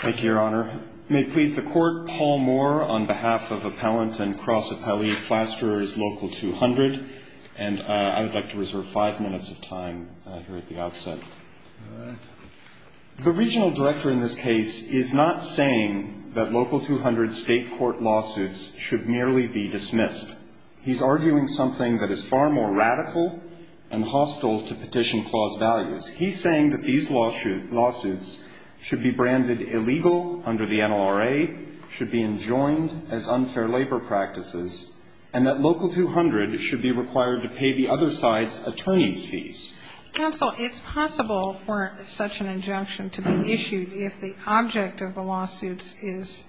Thank you, Your Honor. May it please the Court, Paul Moore on behalf of Appellant and Cross Appellee Plasterers, Local 200. And I would like to reserve five minutes of time here at the outset. The Regional Director in this case is not saying that Local 200 state court lawsuits should merely be dismissed. He's arguing something that is far more radical and hostile to petition clause values. He's saying that these lawsuits should be branded illegal under the NLRA, should be enjoined as unfair labor practices, and that Local 200 should be required to pay the other side's attorneys' fees. Counsel, it's possible for such an injunction to be issued if the object of the lawsuits is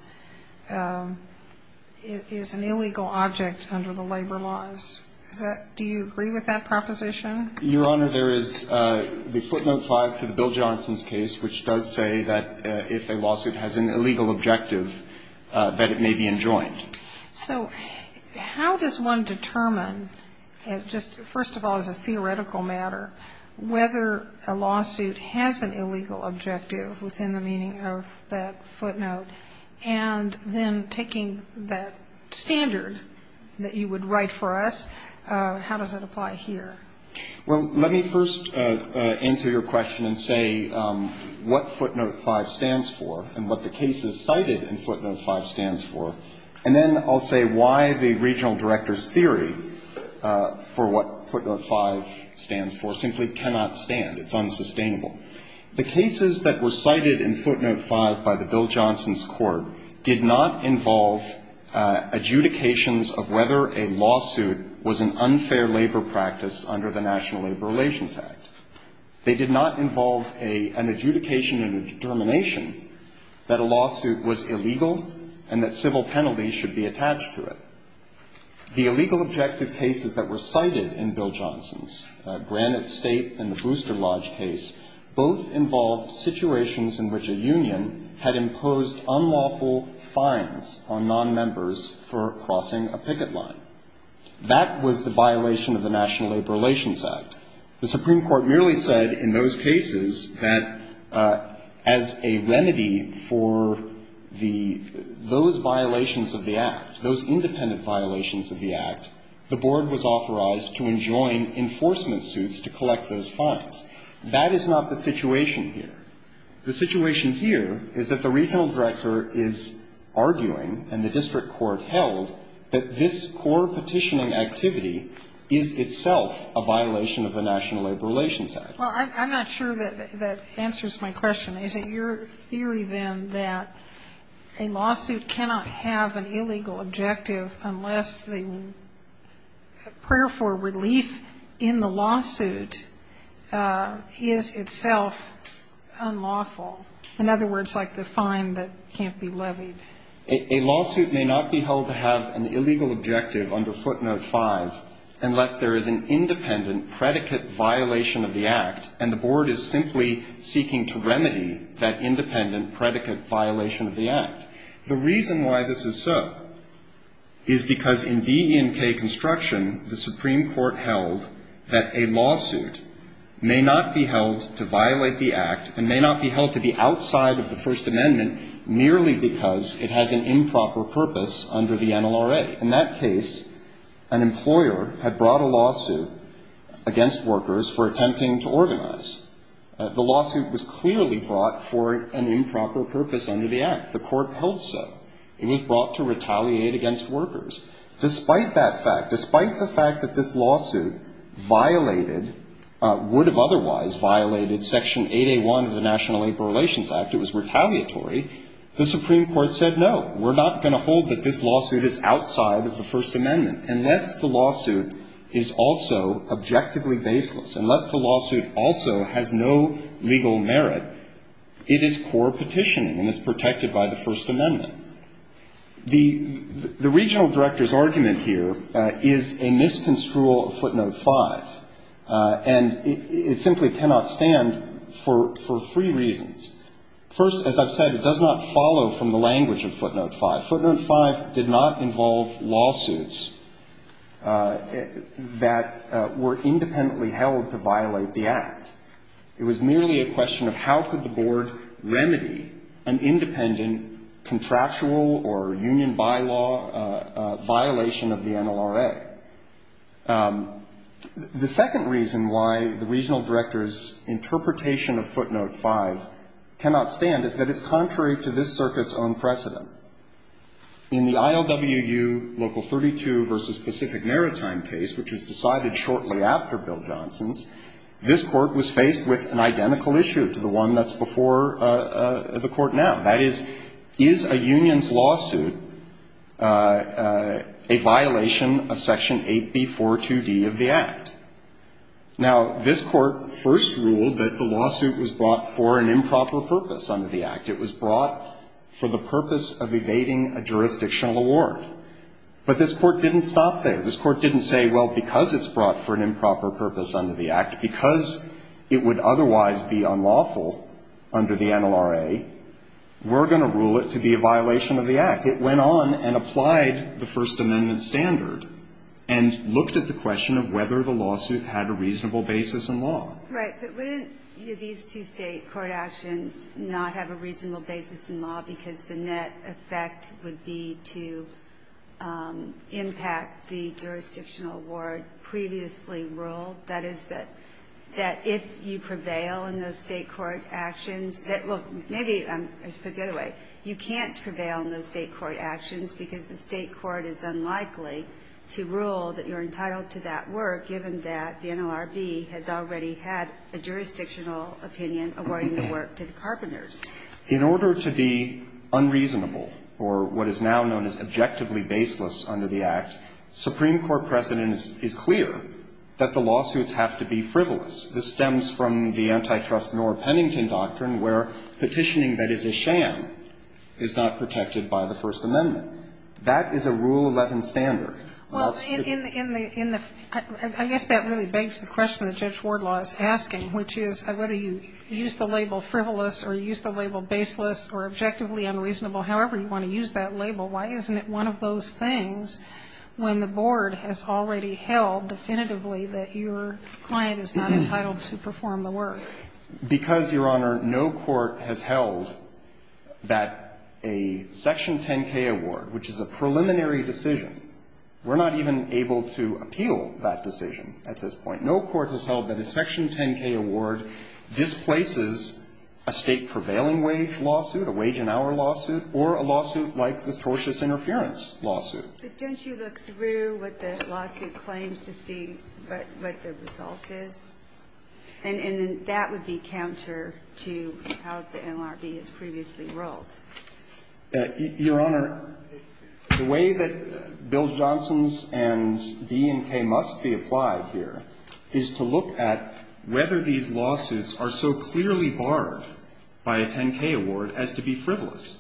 an illegal object under the labor laws. Do you agree with that proposition? Your Honor, there is the footnote 5 to the Bill Johnson's case which does say that if a lawsuit has an illegal objective, that it may be enjoined. So how does one determine, just first of all as a theoretical matter, whether a lawsuit has an illegal objective within the meaning of that footnote, and then taking that standard that you would write for us, how does it apply here? Well, let me first answer your question and say what footnote 5 stands for and what the cases cited in footnote 5 stands for, and then I'll say why the Regional Director's theory for what footnote 5 stands for simply cannot stand. It's unsustainable. The cases that were cited in footnote 5 by the Bill Johnson's court did not involve adjudications of whether a lawsuit was an unfair labor practice under the National Labor Relations Act. They did not involve an adjudication and a determination that a lawsuit was illegal and that civil penalties should be attached to it. The illegal objective cases that were cited in Bill Johnson's Granite State and the Booster Lodge case both involved situations in which a union had imposed unlawful fines on nonmembers for crossing a picket line. That was the violation of the National Labor Relations Act. The Supreme Court merely said in those cases that as a remedy for the, those violations of the Act, those independent violations of the Act, the Board was authorized to enjoin enforcement suits to collect those fines. That is not the situation here. The situation here is that the Regional Director is arguing, and the district court held, that this core petitioning activity is itself a violation of the National Labor Relations Act. Well, I'm not sure that that answers my question. Is it your theory, then, that a lawsuit cannot have an illegal objective unless the prayer for relief in the lawsuit is itself unlawful? In other words, like the fine that can't be levied. A lawsuit may not be held to have an illegal objective under Footnote 5 unless there is an independent predicate violation of the Act, and the Board is simply seeking to remedy that independent predicate violation of the Act. The reason why this is so is because in DE&K construction, the Supreme Court held that a lawsuit may not be held to violate the Act and may not be held to be outside of the First Amendment merely because it has an improper purpose under the NLRA. In that case, an employer had brought a lawsuit against workers for attempting to organize. The lawsuit was clearly brought for an improper purpose under the Act. The Court held so, and it brought to retaliate against workers. Despite that fact, despite the fact that this lawsuit violated, would have otherwise violated Section 8A1 of the National Labor Relations Act, it was retaliatory, the Supreme Court said, no, we're not going to hold that this lawsuit is outside of the First Amendment unless the employer has no legal merit. It is core petitioning, and it's protected by the First Amendment. The regional director's argument here is a misconstrual of Footnote 5, and it simply cannot stand for three reasons. First, as I've said, it does not follow from the language of Footnote 5. Footnote 5 did not involve lawsuits that were independently held to violate the Act. It did not involve lawsuits that violated the NLRA. It was merely a question of how could the board remedy an independent contractual or union bylaw violation of the NLRA. The second reason why the regional director's interpretation of Footnote 5 cannot stand is that it's contrary to this circuit's own precedent. In the ILWU Local 32 v. Pacific Maritime case, which was decided shortly after Bill Johnson's, this Court was faced with an identical issue to the one that's before the Court now. That is, is a union's lawsuit a violation of Section 8B.4.2d of the Act? Now, this Court first ruled that the lawsuit was brought for an improper purpose under the Act. It was brought for the purpose of evading a jurisdictional award. But this Court didn't stop there. This Court didn't say, well, because it's brought for an improper purpose under the Act, because it would otherwise be unlawful under the NLRA, we're going to rule it to be a violation of the Act. It went on and applied the First Amendment standard and looked at the question of whether the lawsuit had a reasonable basis in law. Right. But wouldn't these two State court actions not have a reasonable basis in law because the net effect would be to impact the jurisdictional award previously ruled? That is, that if you prevail in those State court actions, that look, maybe I should put it the other way. You can't prevail in those State court actions because the State court is unlikely to rule that you're entitled to that work, given that the NLRB has already had a jurisdictional opinion awarding the work to the Carpenters. In order to be unreasonable, or what is now known as objectively baseless under the Act, Supreme Court precedent is clear that the lawsuits have to be frivolous. This stems from the antitrust Knorr-Pennington doctrine, where petitioning that is a sham is not protected by the First Amendment. That is a Rule 11 standard. Well, in the – in the – I guess that really begs the question that Judge Wardlaw is asking, which is whether you use the label frivolous or use the label baseless or objectively unreasonable, however you want to use that label, why isn't it one of those things when the Board has already held definitively that your client is not entitled to perform the work? Because, Your Honor, no court has held that a Section 10k award, which is a preliminary decision, we're not even able to appeal that decision at this point. No court has held that a Section 10k award displaces a State prevailing wage lawsuit, a wage and hour lawsuit, or a lawsuit like the tortious interference lawsuit. But don't you look through what the lawsuit claims to see what the result is? And then that would be counter to how the NLRB has previously ruled. Your Honor, the way that Bill Johnson's and D&K must be applied here is to look at whether these lawsuits are so clearly barred by a 10k award as to be frivolous.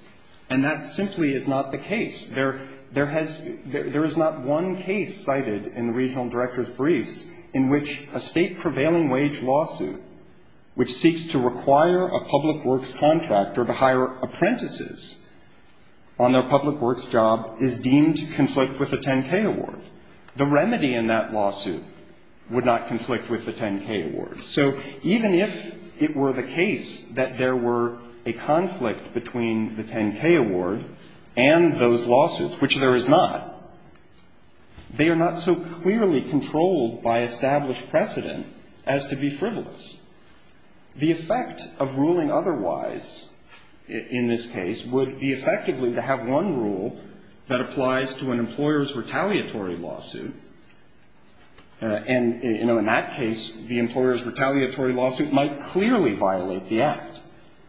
And that simply is not the case. There – there has – there is not one case cited in the Regional Director's briefs in which a State prevailing wage lawsuit, which on their public works job, is deemed to conflict with a 10k award. The remedy in that lawsuit would not conflict with the 10k award. So even if it were the case that there were a conflict between the 10k award and those lawsuits, which there is not, they are not so clearly controlled by established precedent as to be frivolous. The effect of ruling otherwise in this case would be effectively to have one rule that applies to an employer's retaliatory lawsuit. And, you know, in that case, the employer's retaliatory lawsuit might clearly violate the Act.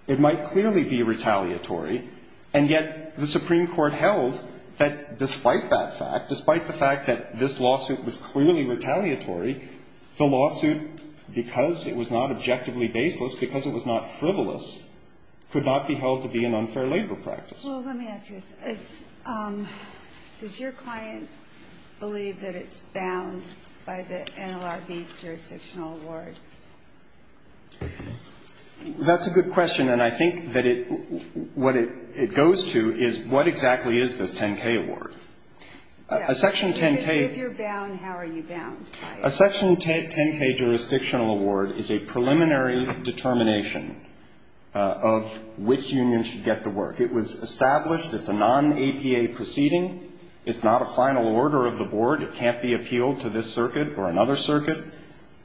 It might clearly be retaliatory. And yet the Supreme Court held that despite that fact, despite the fact that this is not frivolous, could not be held to be an unfair labor practice. Well, let me ask you this. Does your client believe that it's bound by the NLRB's jurisdictional award? That's a good question. And I think that it – what it goes to is what exactly is this 10k award. A section 10k… If you're bound, how are you bound? A section 10k jurisdictional award is a preliminary determination of which union should get the work. It was established. It's a non-APA proceeding. It's not a final order of the board. It can't be appealed to this circuit or another circuit.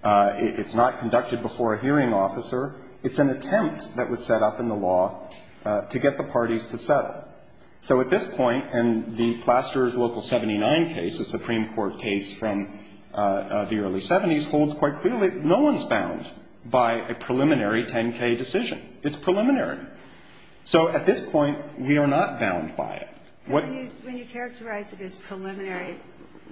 It's not conducted before a hearing officer. It's an attempt that was set up in the law to get the parties to settle. So at this point, and the Plasterers Local 79 case, a Supreme Court case from the early 70s, holds quite clearly no one's bound by a preliminary 10k decision. It's preliminary. So at this point, we are not bound by it. When you characterize it as preliminary,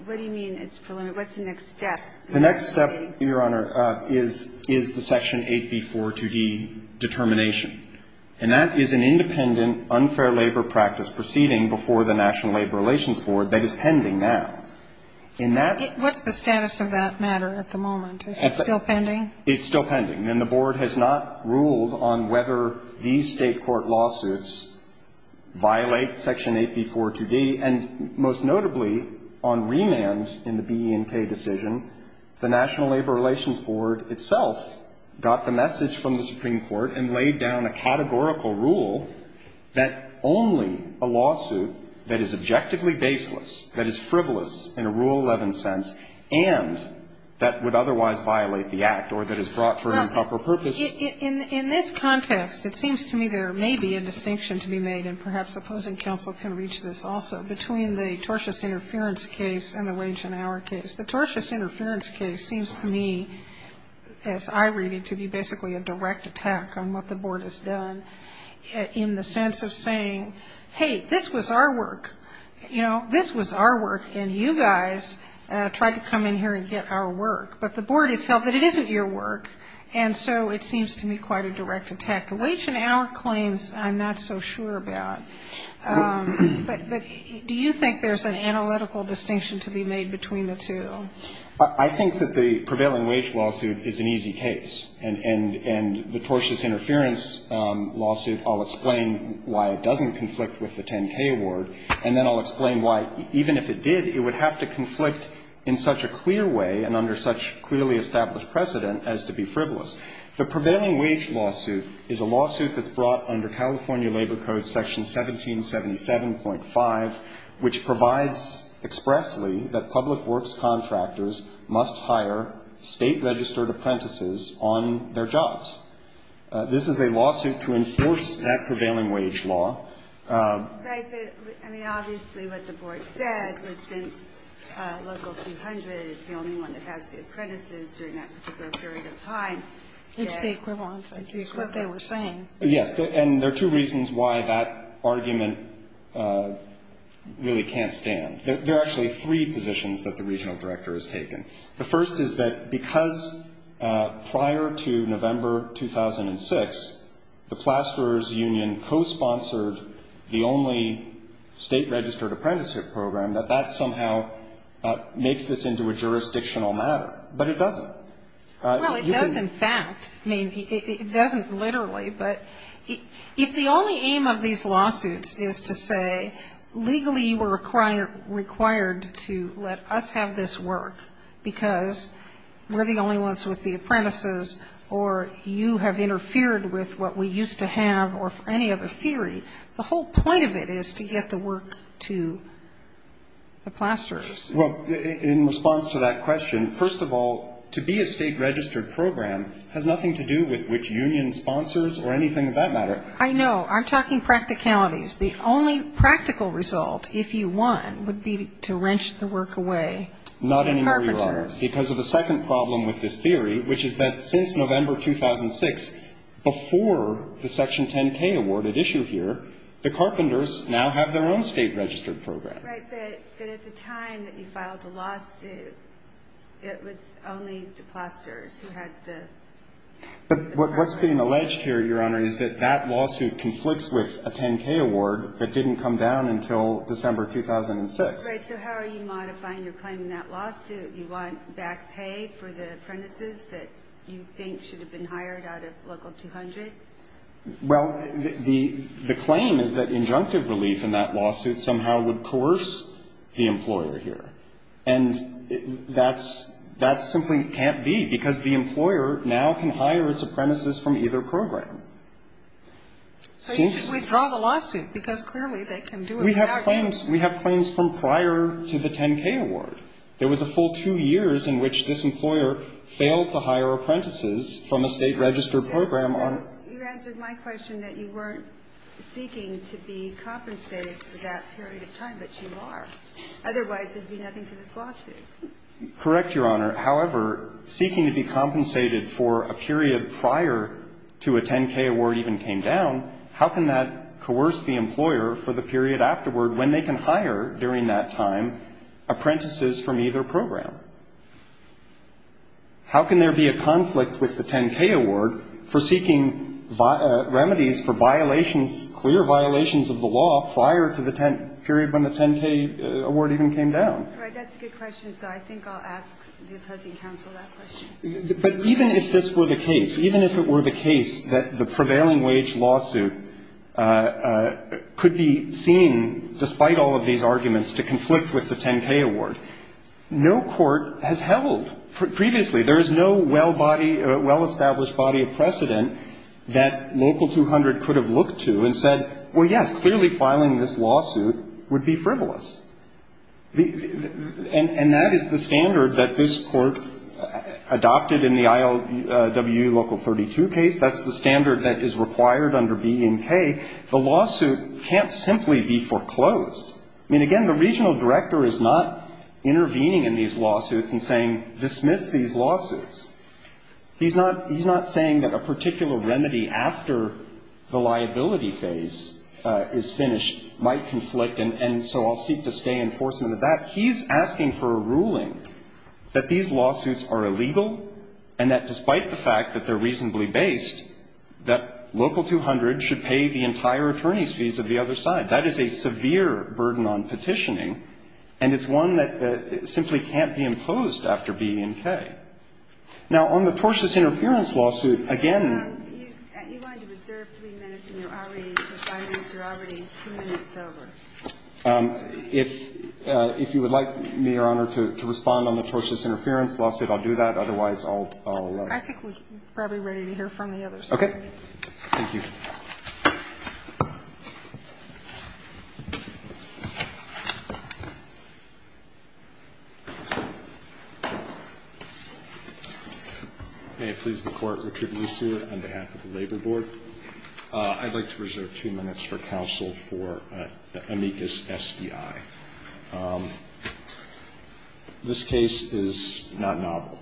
what do you mean it's preliminary? What's the next step? The next step, Your Honor, is the Section 8b-4-2d determination. And that is an independent, unfair labor practice proceeding before the National Labor Relations Board that is pending now. In that… What's the status of that matter at the moment? Is it still pending? It's still pending. And the board has not ruled on whether these State court lawsuits violate Section 8b-4-2d. And most notably, on remand in the BE&K decision, the National Labor Relations Board itself got the message from the Supreme Court and laid down a categorical rule that only a lawsuit that is objectively baseless, that is frivolous in a Rule 11 sense, and that would otherwise violate the Act or that is brought for an improper purpose… In this context, it seems to me there may be a distinction to be made, and perhaps opposing counsel can reach this also, between the tortious interference case and the wage and hour case. The tortious interference case seems to me, as I read it, to be basically a direct attack on what the board has done in the sense of saying, hey, this was our work. You know, this was our work, and you guys tried to come in here and get our work. But the board has held that it isn't your work, and so it seems to me quite a direct attack. The wage and hour claims, I'm not so sure about. But do you think there's an analytical distinction to be made between the two? I think that the prevailing wage lawsuit is an easy case. And the tortious interference lawsuit, I'll explain why it doesn't conflict with the 10K award, and then I'll explain why, even if it did, it would have to conflict in such a clear way and under such clearly established precedent as to be frivolous. The prevailing wage lawsuit is a lawsuit that's brought under California Labor Code, Section 1777.5, which provides expressly that public works contractors must hire state-registered apprentices on their jobs. This is a lawsuit to enforce that prevailing wage law. Right, but, I mean, obviously what the board said was since Local 200 is the only one that has the apprentices during that particular period of time, that the It's the equivalent of what they were saying. Yes, and there are two reasons why that argument really can't stand. There are actually three positions that the regional director has taken. The first is that because prior to November 2006, the Plasterers Union co-sponsored the only state-registered apprenticeship program, that that somehow makes this into a jurisdictional matter. But it doesn't. Well, it does in fact. I mean, it doesn't literally, but if the only aim of these lawsuits is to say legally you were required to let us have this work because we're the only ones with the apprentices or you have interfered with what we used to have or any other theory, the whole point of it is to get the work to the Plasterers. Well, in response to that question, first of all, to be a state-registered program has nothing to do with which union sponsors or anything of that matter. I know. I'm talking practicalities. The only practical result, if you want, would be to wrench the work away from carpenters. Not anymore, Your Honor, because of the second problem with this theory, which is that since November 2006, before the Section 10K awarded issue here, the carpenters now have their own state-registered program. Right. But at the time that you filed the lawsuit, it was only the Plasterers who had the work. But what's being alleged here, Your Honor, is that that lawsuit conflicts with a 10K award that didn't come down until December 2006. Right. So how are you modifying your claim in that lawsuit? You want back pay for the apprentices that you think should have been hired out of Local 200? Well, the claim is that injunctive relief in that lawsuit somehow would coerce the employer here. And that's simply can't be, because the employer now can hire its apprentices from either program. So you should withdraw the lawsuit, because clearly they can do it without you. We have claims from prior to the 10K award. There was a full two years in which this employer failed to hire apprentices from a state-registered program. So you answered my question that you weren't seeking to be compensated for that period of time, but you are. Otherwise, it would be nothing to this lawsuit. Correct, Your Honor. However, seeking to be compensated for a period prior to a 10K award even came down, how can that coerce the employer for the period afterward when they can hire during that time apprentices from either program? How can there be a conflict with the 10K award for seeking remedies for violations clear violations of the law prior to the period when the 10K award even came down? Right. That's a good question. So I think I'll ask the opposing counsel that question. But even if this were the case, even if it were the case that the prevailing wage lawsuit could be seen, despite all of these arguments, to conflict with the 10K award, this court has held previously. There is no well-established body of precedent that Local 200 could have looked to and said, well, yes, clearly filing this lawsuit would be frivolous. And that is the standard that this court adopted in the ILW Local 32 case. That's the standard that is required under BNK. The lawsuit can't simply be foreclosed. I mean, again, the regional director is not intervening in these lawsuits and saying dismiss these lawsuits. He's not saying that a particular remedy after the liability phase is finished might conflict, and so I'll seek to stay in enforcement of that. He's asking for a ruling that these lawsuits are illegal and that despite the fact that they're reasonably based, that Local 200 should pay the entire attorney's That is a severe burden on petitioning, and it's one that simply can't be imposed after BNK. Now, on the tortious interference lawsuit, again you want to reserve three minutes and you're already providing, so you're already two minutes over. If you would like, Your Honor, to respond on the tortious interference lawsuit, I'll do that. Otherwise, I'll let you. I think we're probably ready to hear from the other side. Okay. Thank you. May it please the Court, Richard Lussier on behalf of the Labor Board. I'd like to reserve two minutes for counsel for amicus SDI. This case is not novel.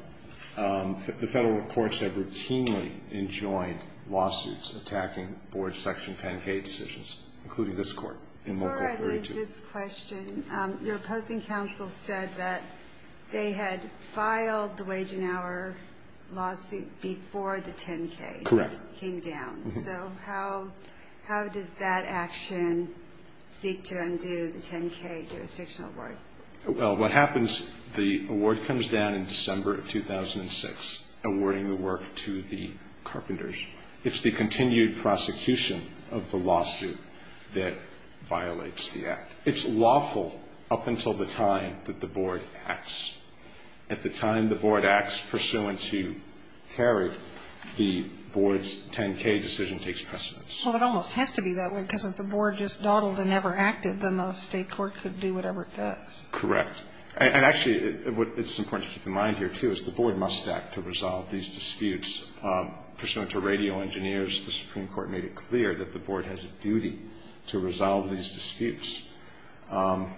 The federal courts have routinely enjoined lawsuits attacking board section 10-K decisions, including this court in Local 32. Before I leave this question, your opposing counsel said that they had filed the wage and hour lawsuit before the 10-K came down. Correct. So how does that action seek to undo the 10-K jurisdictional award? Well, what happens, the award comes down in December of 2006, awarding the work to the Carpenters. It's the continued prosecution of the lawsuit that violates the act. It's lawful up until the time that the board acts. At the time the board acts, pursuant to ferret, the board's 10-K decision takes precedence. Well, it almost has to be that way, because if the board just dawdled and never acted, then the state court could do whatever it does. Correct. And actually, it's important to keep in mind here, too, is the board must act to resolve these disputes. Pursuant to radio engineers, the Supreme Court made it clear that the board has a duty to resolve these disputes. Well,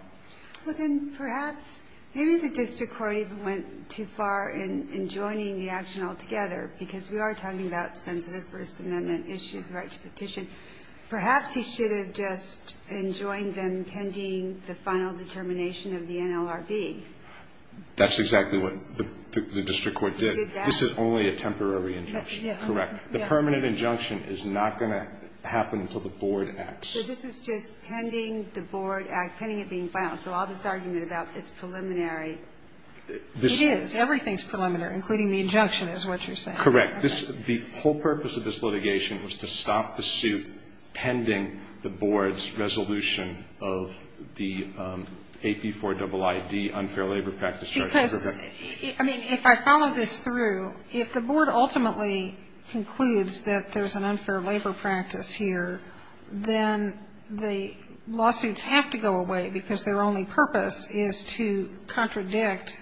then perhaps maybe the district court even went too far in joining the action to petition. Perhaps he should have just enjoined them pending the final determination of the NLRB. That's exactly what the district court did. He did that? This is only a temporary injunction. Correct. The permanent injunction is not going to happen until the board acts. So this is just pending the board act, pending it being filed. So all this argument about it's preliminary. It is. Everything's preliminary, including the injunction, is what you're saying. Correct. The whole purpose of this litigation was to stop the suit pending the board's resolution of the AP4IDID unfair labor practice charge. Because, I mean, if I follow this through, if the board ultimately concludes that there's an unfair labor practice here, then the lawsuits have to go away because their only purpose is to contradict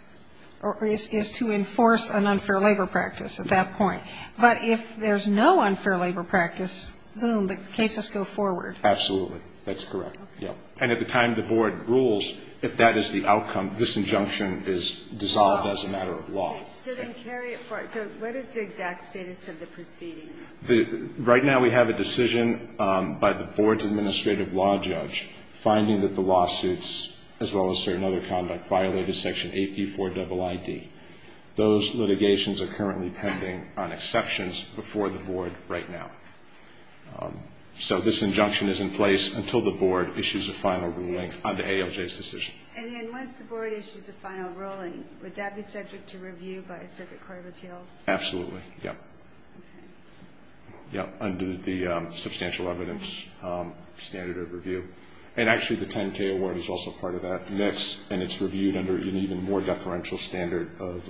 or is to enforce an unfair labor practice at that point. But if there's no unfair labor practice, boom, the cases go forward. Absolutely. That's correct. And at the time the board rules, if that is the outcome, this injunction is dissolved as a matter of law. So then carry it forward. So what is the exact status of the proceedings? Right now we have a decision by the board's administrative law judge finding that the lawsuits, as well as certain other conduct, violated Section AP4IDID. Those litigations are currently pending on exceptions before the board right now. So this injunction is in place until the board issues a final ruling on the ALJ's decision. And then once the board issues a final ruling, would that be subject to review by a circuit court of appeals? Absolutely, yeah. Okay. Yeah, under the substantial evidence standard of review. And actually the 10-K award is also part of that mix, and it's reviewed under an even more deferential standard of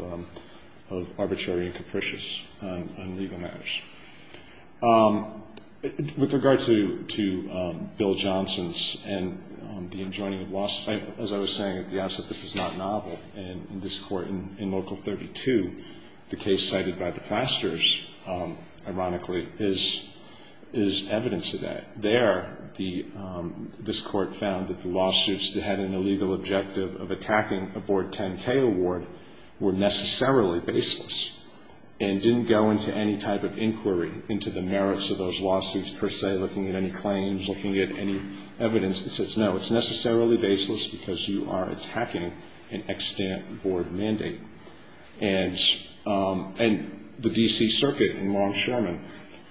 arbitrary and capricious on legal matters. With regard to Bill Johnson's and the enjoining of lawsuits, as I was saying at the outset, this is not novel. And in this court, in Local 32, the case cited by the Plasters, ironically, is evidence of that. There, this court found that the lawsuits that had an illegal objective of attacking a board 10-K award were necessarily baseless, and didn't go into any type of inquiry into the merits of those lawsuits per se, looking at any claims, looking at any evidence that says, no, it's necessarily baseless because you are attacking an extant board mandate. And the D.C. Circuit in Longshoreman,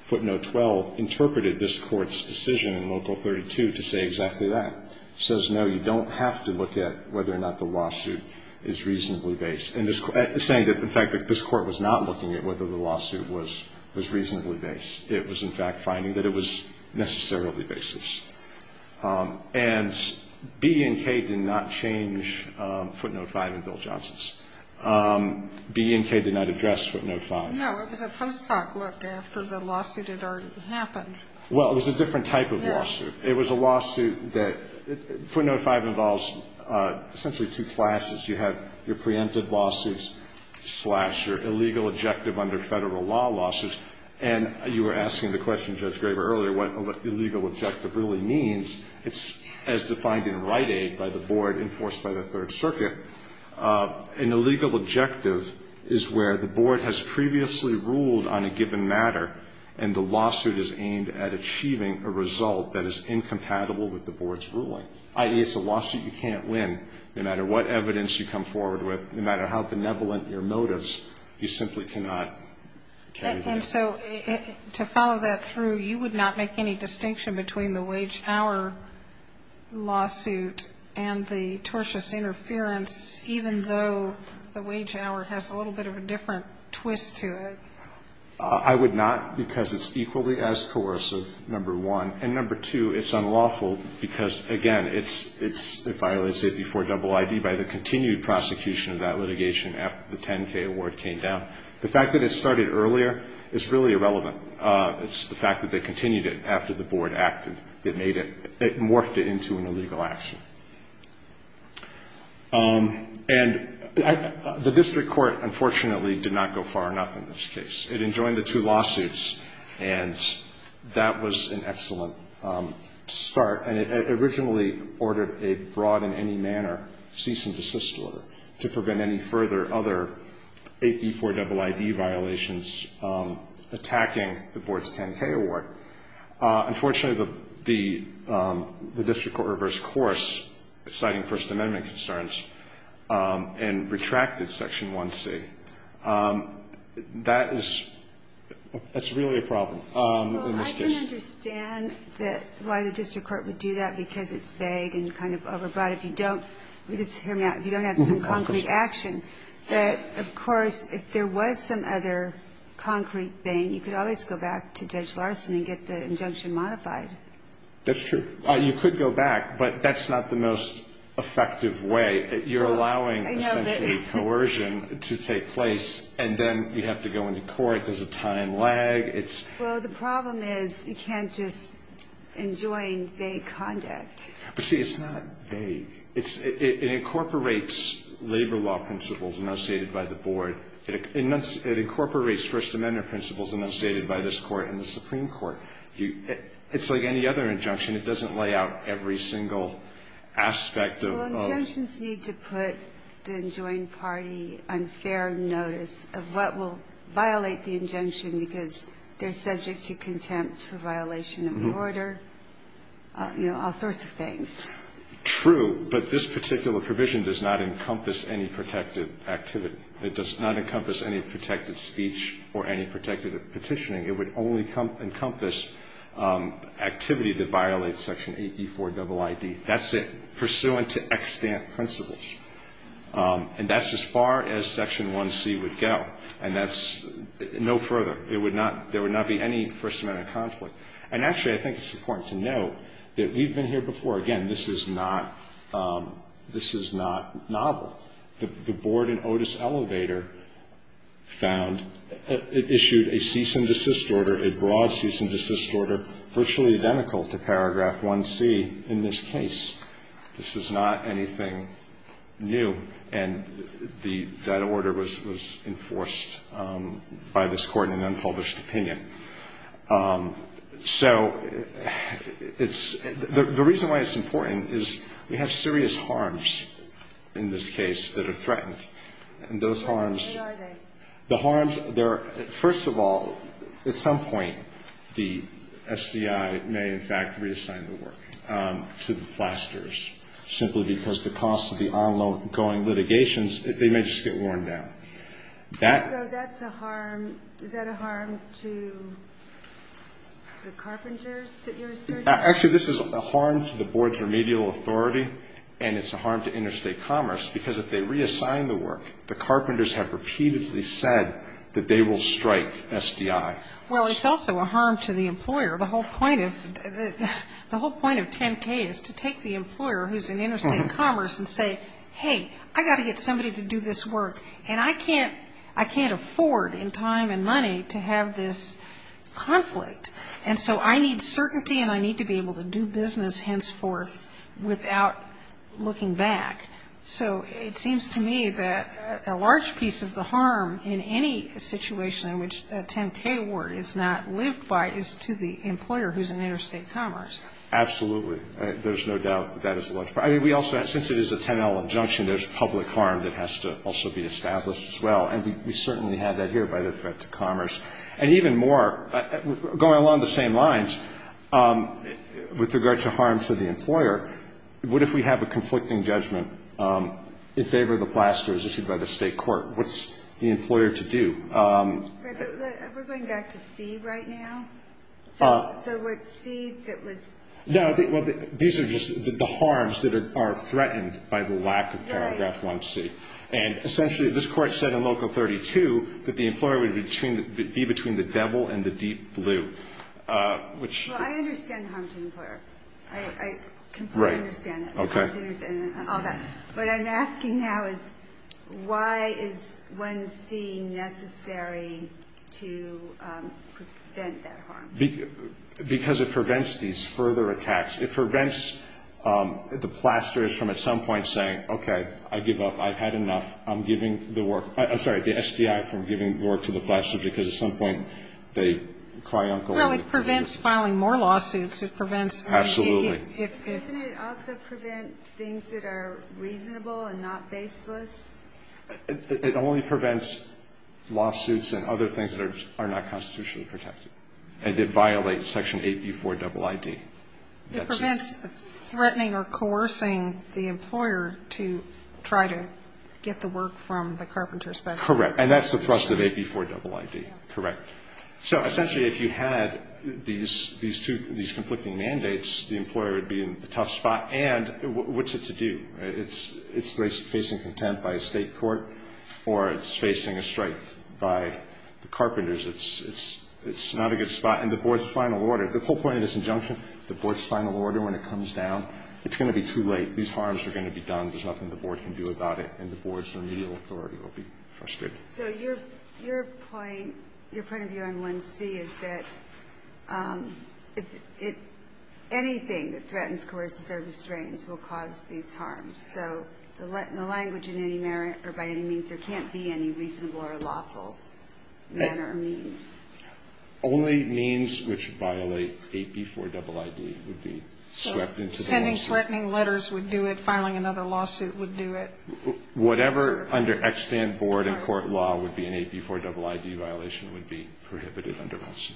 footnote 12, interpreted this Court's decision in Local 32 to say exactly that. It says, no, you don't have to look at whether or not the lawsuit is reasonably baseless. It's saying that, in fact, that this Court was not looking at whether the lawsuit was reasonably baseless. It was, in fact, finding that it was necessarily baseless. And B and K did not change footnote 5 in Bill Johnson's. B and K did not address footnote 5. No, it was a post hoc look after the lawsuit had already happened. Well, it was a different type of lawsuit. Yes. It was a lawsuit that footnote 5 involves essentially two classes. You have your preempted lawsuits slash your illegal objective under Federal law lawsuits. And you were asking the question, Judge Graber, earlier what illegal objective really means. It's as defined in Rite Aid by the board enforced by the Third Circuit. An illegal objective is where the board has previously ruled on a given matter and the lawsuit is aimed at achieving a result that is incompatible with the board's ruling. I.e., it's a lawsuit you can't win, no matter what evidence you come forward with, no matter how benevolent your motives, you simply cannot carry the case. And so to follow that through, you would not make any distinction between the wage-hour lawsuit and the tortious interference, even though the wage-hour has a little bit of a different twist to it. I would not, because it's equally as coercive, number one. And number two, it's unlawful because, again, it's violated before double ID by the continued prosecution of that litigation after the 10K award came down. The fact that it started earlier is really irrelevant. It's the fact that they continued it after the board acted that made it, morphed it into an illegal action. And the district court, unfortunately, did not go far enough in this case. It enjoined the two lawsuits, and that was an excellent start. And it originally ordered a broad in any manner cease and desist order to prevent any further other before double ID violations attacking the board's 10K award. Unfortunately, the district court reversed course, citing First Amendment concerns, and retracted Section 1C. That is really a problem in this case. Well, I can understand why the district court would do that, because it's vague and kind of overbroad. If you don't, just hear me out, if you don't have some concrete action. But, of course, if there was some other concrete thing, you could always go back to Judge Larson and get the injunction modified. That's true. You could go back, but that's not the most effective way. You're allowing essentially coercion to take place, and then you have to go into court. There's a time lag. Well, the problem is you can't just enjoin vague conduct. But, see, it's not vague. It incorporates labor law principles enunciated by the board. It incorporates First Amendment principles enunciated by this Court and the Supreme Court. It's like any other injunction. It doesn't lay out every single aspect of the law. Well, injunctions need to put the enjoined party on fair notice of what will violate the injunction because they're subject to contempt for violation of order, you know, all sorts of things. True. But this particular provision does not encompass any protective activity. It does not encompass any protective speech or any protective petitioning. It would only encompass activity that violates Section 8E4 double I.D. That's it. Pursuant to extant principles. And that's as far as Section 1C would go. And that's no further. There would not be any First Amendment conflict. And, actually, I think it's important to note that we've been here before. Again, this is not novel. The Board in Otis Elevator found issued a cease and desist order, a broad cease and desist order, virtually identical to Paragraph 1C in this case. This is not anything new. And that order was enforced by this Court in an unpublished opinion. So it's the reason why it's important is we have serious harms in this case. That are threatened. And those harms. Where are they? The harms, they're, first of all, at some point, the SDI may, in fact, reassign the work to the flasters. Simply because the cost of the ongoing litigations, they may just get worn down. So that's a harm, is that a harm to the carpenters that you're asserting? Actually, this is a harm to the Board's remedial authority. And it's a harm to interstate commerce. Because if they reassign the work, the carpenters have repeatedly said that they will strike SDI. Well, it's also a harm to the employer. The whole point of 10K is to take the employer who's in interstate commerce and say, hey, I've got to get somebody to do this work. And I can't afford in time and money to have this conflict. And so I need certainty and I need to be able to do business henceforth without looking back. So it seems to me that a large piece of the harm in any situation in which a 10K award is not lived by is to the employer who's in interstate commerce. Absolutely. There's no doubt that that is a large part. I mean, we also have, since it is a 10L injunction, there's public harm that has to also be established as well. And we certainly have that here by the threat to commerce. And even more, going along the same lines, with regard to harm to the employer, what if we have a conflicting judgment in favor of the plasters issued by the state court? What's the employer to do? We're going back to C right now? So we're at C that was? No, well, these are just the harms that are threatened by the lack of paragraph 1C. And essentially this court said in Local 32 that the employer would be between the devil and the deep blue. Well, I understand harm to the employer. I completely understand that. Okay. All that. What I'm asking now is why is 1C necessary to prevent that harm? Because it prevents these further attacks. It prevents the plasters from at some point saying, okay, I give up. I've had enough. I'm giving the work. I'm sorry, the SDI from giving work to the plasters because at some point they cry uncle. Well, it prevents filing more lawsuits. It prevents 1C. Absolutely. Doesn't it also prevent things that are reasonable and not baseless? It only prevents lawsuits and other things that are not constitutionally protected. And it violates Section 8B4ID. It prevents threatening or coercing the employer to try to get the work from the carpenters. Correct. And that's the thrust of 8B4ID. Correct. So essentially if you had these conflicting mandates, the employer would be in a tough spot. And what's it to do? It's facing contempt by a state court or it's facing a strike by the carpenters. It's not a good spot. And the board's final order, the whole point of this injunction, the board's final order when it comes down, it's going to be too late. These harms are going to be done. There's nothing the board can do about it. And the board's remedial authority will be frustrated. So your point of view on 1C is that anything that threatens, coerces, or restrains will cause these harms. So the language in any manner or by any means, there can't be any reasonable or lawful manner or means. Only means which violate 8B4ID would be swept into the lawsuit. So sending threatening letters would do it, filing another lawsuit would do it. Whatever under extant board and court law would be an 8B4ID violation would be prohibited under 1C.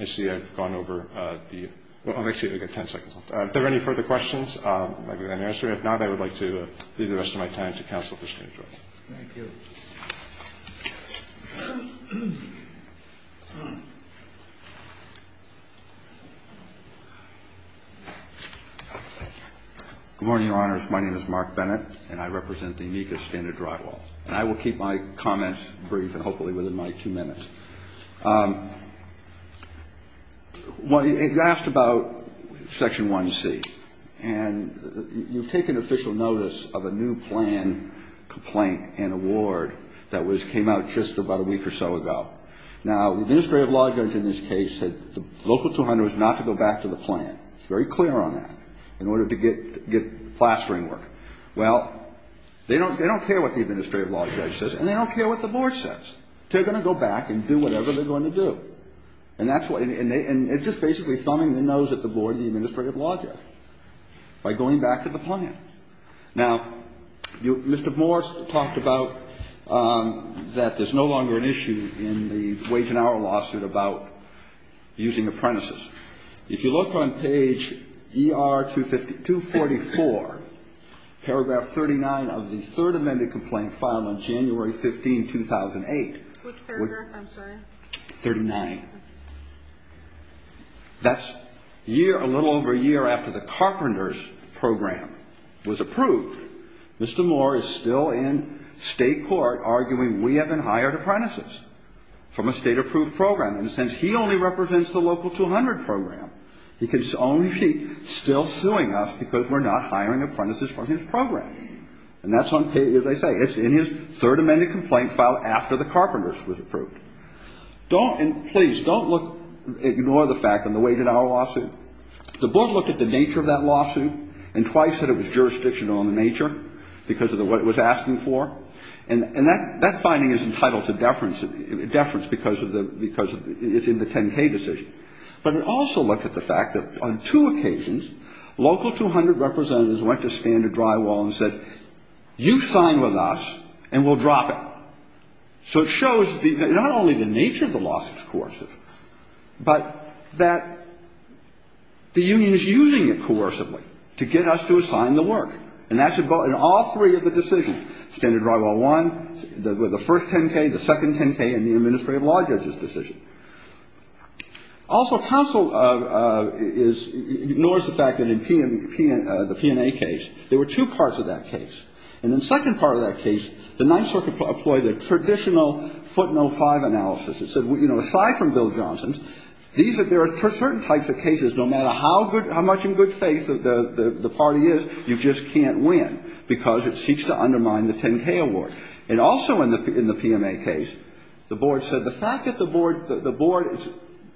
I see I've gone over the end. Well, actually, we've got 10 seconds left. If there are any further questions, I'm happy to answer them. If not, I would like to leave the rest of my time to counsel for standard drywall. Thank you. Good morning, Your Honors. My name is Mark Bennett, and I represent the amicus standard drywall. And I will keep my comments brief and hopefully within my two minutes. Well, you asked about Section 1C. And you've taken official notice of a new plan complaint and award that was came out just about a week or so ago. Now, the administrative law judge in this case said the local 200 is not to go back to the plan. It's very clear on that, in order to get plastering work. Well, they don't care what the administrative law judge says, and they don't care what the board says. They're going to go back and do whatever they're going to do. And that's what they do. And it's just basically thumbing the nose at the board and the administrative law judge by going back to the plan. Now, Mr. Moore talked about that there's no longer an issue in the wage and hour lawsuit about using apprentices. If you look on page ER-244, paragraph 39 of the third amended complaint filed on January 15, 2008. Which paragraph? I'm sorry. 39. That's a little over a year after the carpenters program was approved. Mr. Moore is still in state court arguing we haven't hired apprentices from a state-approved program. In a sense, he only represents the local 200 program. He can only be still suing us because we're not hiring apprentices from his program. And that's on page, as I say. It's in his third amended complaint filed after the carpenters was approved. Don't, and please, don't look, ignore the fact on the wage and hour lawsuit. The board looked at the nature of that lawsuit and twice said it was jurisdictional in nature because of what it was asking for. And that finding is entitled to deference because it's in the 10-K decision. But it also looked at the fact that on two occasions, local 200 representatives went to Standard Drywall and said, you've signed with us and we'll drop it. So it shows not only the nature of the lawsuit's coercive, but that the union is using it coercively to get us to assign the work. And that should go in all three of the decisions, Standard Drywall I, the first 10-K, the second 10-K, and the administrative law judge's decision. Also, counsel is, ignores the fact that in the P&A case, there were two parts of that case. And in the second part of that case, the Ninth Circuit employed a traditional footnote 5 analysis. It said, you know, aside from Bill Johnson's, there are certain types of cases, no matter how much in good faith the party is, you just can't win because it seeks to undermine the 10-K award. And also in the P&A case, the board said the fact that the board, the board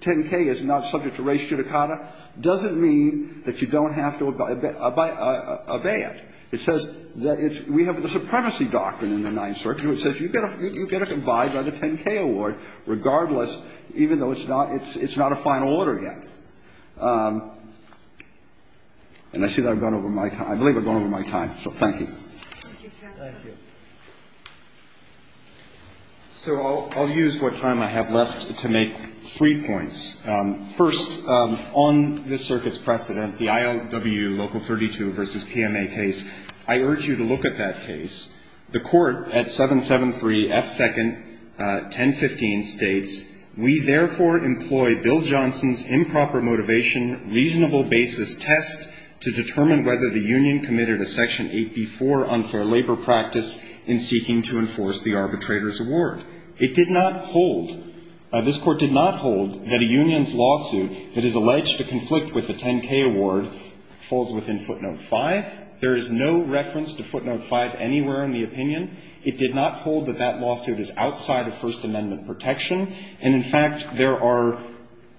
10-K is not subject to res judicata doesn't mean that you don't have to obey it. It says that it's, we have the supremacy doctrine in the Ninth Circuit which says you've got to abide by the 10-K award regardless, even though it's not, it's not a final order yet. And I see that I've gone over my time. I believe I've gone over my time. So thank you. Thank you. So I'll use what time I have left to make three points. First, on this Circuit's precedent, the ILW Local 32 v. P&A case, I urge you to look at that case. The Court at 773 F. 2nd, 1015 states, It did not hold, this Court did not hold that a union's lawsuit that is alleged to conflict with the 10-K award falls within footnote 5. There is no reference to footnote 5 anywhere in the opinion. It did not hold that that lawsuit is outside of First Amendment protection. to enforce the arbitrator's award. And in fact, there are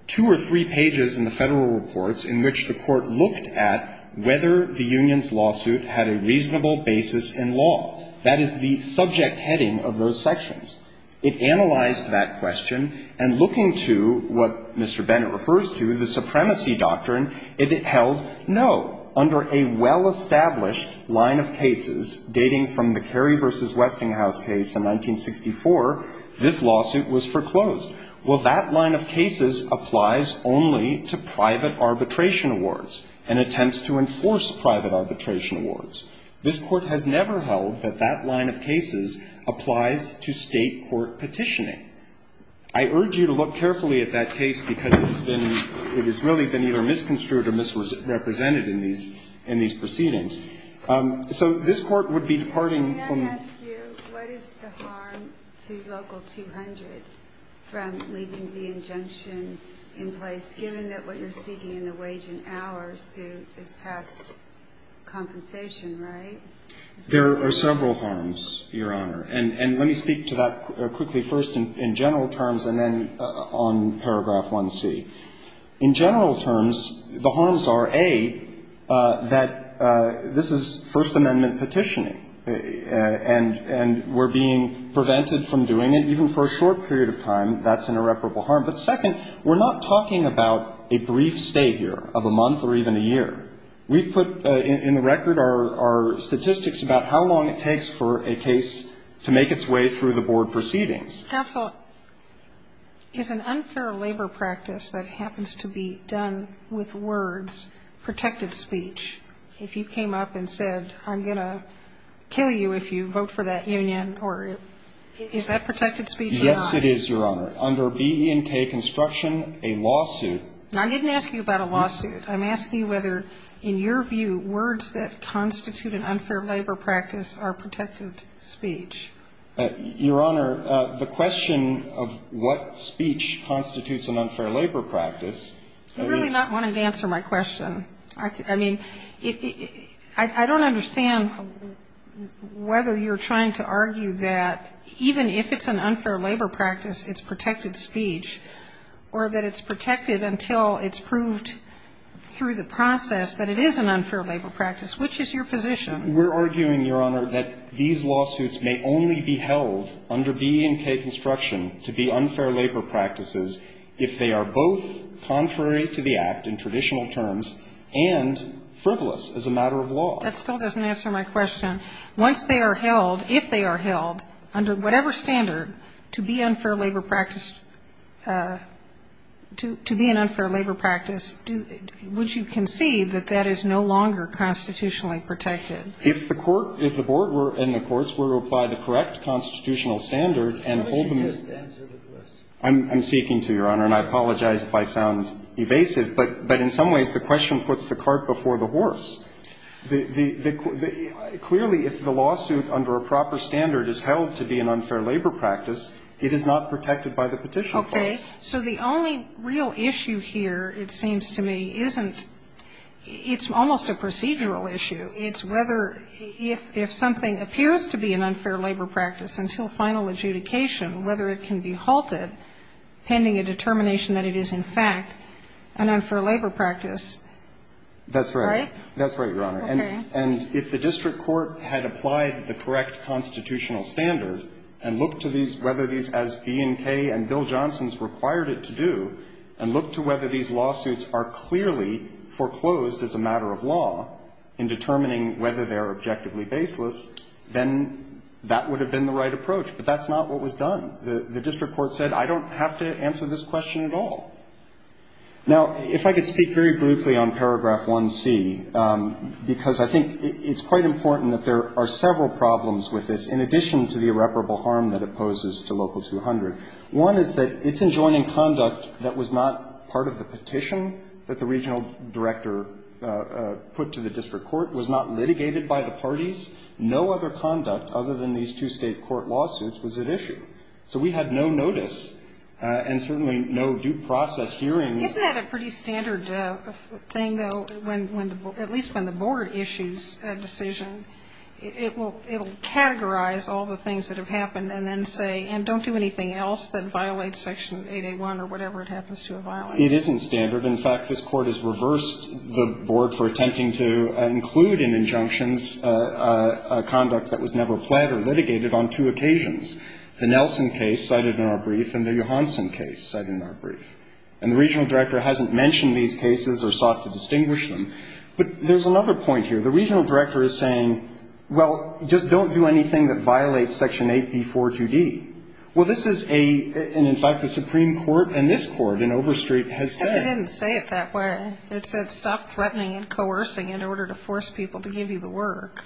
two or three pages in the Federal Reports in which the Court looked at whether the union's lawsuit had a reasonable basis in law. That is the subject heading of those sections. It analyzed that question, and looking to what Mr. Bennett refers to, the supremacy doctrine, it held, no, under a well-established line of cases dating from the Kerry v. Westinghouse case in 1964, this lawsuit was foreclosed. Well, that line of cases applies only to private arbitration awards and attempts to enforce private arbitration awards. This Court has never held that that line of cases applies to State court petitioning. I urge you to look carefully at that case because it has been, it has really been either misconstrued or misrepresented in these proceedings. So this Court would be departing from the ---- Can I ask you what is the harm to Local 200 from leaving the injunction in place given that what you're seeking in the wage and hour suit is past compensation, right? There are several harms, Your Honor. And let me speak to that quickly first in general terms and then on paragraph two. In general terms, the harms are, A, that this is First Amendment petitioning and we're being prevented from doing it, even for a short period of time, that's an irreparable harm. But second, we're not talking about a brief stay here of a month or even a year. We've put in the record our statistics about how long it takes for a case to make its way through the board proceedings. Counsel, is an unfair labor practice that happens to be done with words protected speech? If you came up and said, I'm going to kill you if you vote for that union, or is that protected speech or not? Yes, it is, Your Honor. Under BE&K construction, a lawsuit ---- I didn't ask you about a lawsuit. I'm asking whether, in your view, words that constitute an unfair labor practice are protected speech. Your Honor, the question of what speech constitutes an unfair labor practice is ---- You're really not wanting to answer my question. I mean, I don't understand whether you're trying to argue that even if it's an unfair labor practice, it's protected speech, or that it's protected until it's proved through the process that it is an unfair labor practice. Which is your position? We're arguing, Your Honor, that these lawsuits may only be held under BE&K construction to be unfair labor practices if they are both contrary to the Act in traditional terms and frivolous as a matter of law. That still doesn't answer my question. Once they are held, if they are held, under whatever standard, to be unfair labor practice, to be an unfair labor practice, would you concede that that is no longer constitutionally protected? If the Court ---- if the board and the courts were to apply the correct constitutional standard and hold them ---- I'm seeking to, Your Honor, and I apologize if I sound evasive. But in some ways, the question puts the cart before the horse. Clearly, if the lawsuit under a proper standard is held to be an unfair labor practice, it is not protected by the Petition Clause. Okay. So the only real issue here, it seems to me, isn't ---- it's almost a procedural issue. It's whether if something appears to be an unfair labor practice until final adjudication, whether it can be halted pending a determination that it is, in fact, an unfair labor practice. That's right. Right? That's right, Your Honor. And if the district court had applied the correct constitutional standard and looked to these ---- whether these, as B&K and Bill Johnson's required it to do, and looked to whether these lawsuits are clearly foreclosed as a matter of law in determining whether they are objectively baseless, then that would have been the right approach. But that's not what was done. The district court said, I don't have to answer this question at all. Now, if I could speak very briefly on paragraph 1C, because I think it's quite important that there are several problems with this, in addition to the irreparable harm that it poses to Local 200. One is that it's enjoining conduct that was not part of the petition that the regional director put to the district court, was not litigated by the parties. No other conduct other than these two State court lawsuits was at issue. So we had no notice and certainly no due process hearings. Isn't that a pretty standard thing, though, when the ---- at least when the board issues a decision? It will categorize all the things that have happened and then say, and don't do anything else that violates Section 8A1 or whatever it happens to have violated. It isn't standard. In fact, this Court has reversed the board for attempting to include in injunctions a conduct that was never planned or litigated on two occasions, the Nelson case cited in our brief and the Johanson case cited in our brief. And the regional director hasn't mentioned these cases or sought to distinguish them. But there's another point here. The regional director is saying, well, just don't do anything that violates Section 8B42D. Well, this is a ---- and, in fact, the Supreme Court and this Court in Overstreet has said ---- But it didn't say it that way. It said stop threatening and coercing in order to force people to give you the work.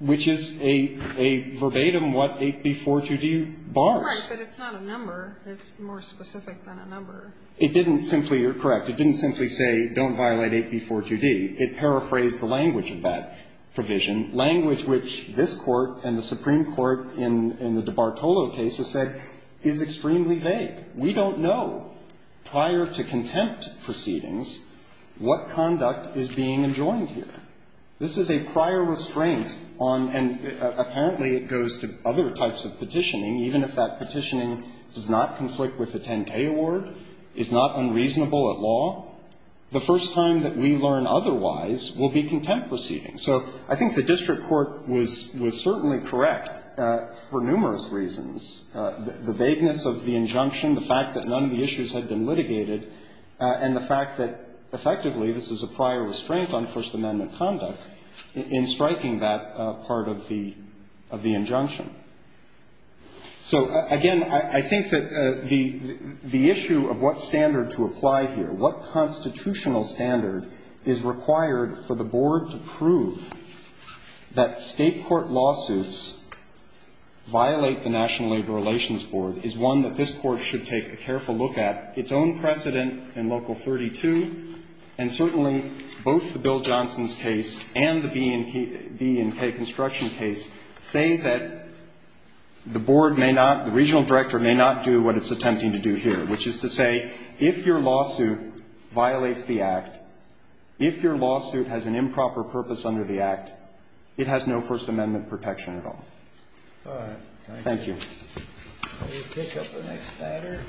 Which is a verbatim what 8B42D bars. Right. But it's not a number. It's more specific than a number. It didn't simply ---- you're correct. It didn't simply say don't violate 8B42D. It paraphrased the language of that provision, language which this Court and the Supreme Court in the DiBartolo case has said is extremely vague. We don't know prior to contempt proceedings what conduct is being enjoined here. This is a prior restraint on ---- and apparently it goes to other types of petitioning, does not conflict with the 10-K award, is not unreasonable at law, the first time that we learn otherwise will be contempt proceedings. So I think the district court was certainly correct for numerous reasons. The vagueness of the injunction, the fact that none of the issues had been litigated, and the fact that, effectively, this is a prior restraint on First Amendment conduct in striking that part of the injunction. So, again, I think that the issue of what standard to apply here, what constitutional standard is required for the Board to prove that state court lawsuits violate the National Labor Relations Board is one that this Court should take a careful look at, its own precedent in Local 32, and certainly both the Bill Johnson's case and the B&K Construction case say that the Board may not, the regional director may not do what it's attempting to do here, which is to say if your lawsuit violates the Act, if your lawsuit has an improper purpose under the Act, it has no First Amendment protection at all. Thank you. We'll pick up the next matter.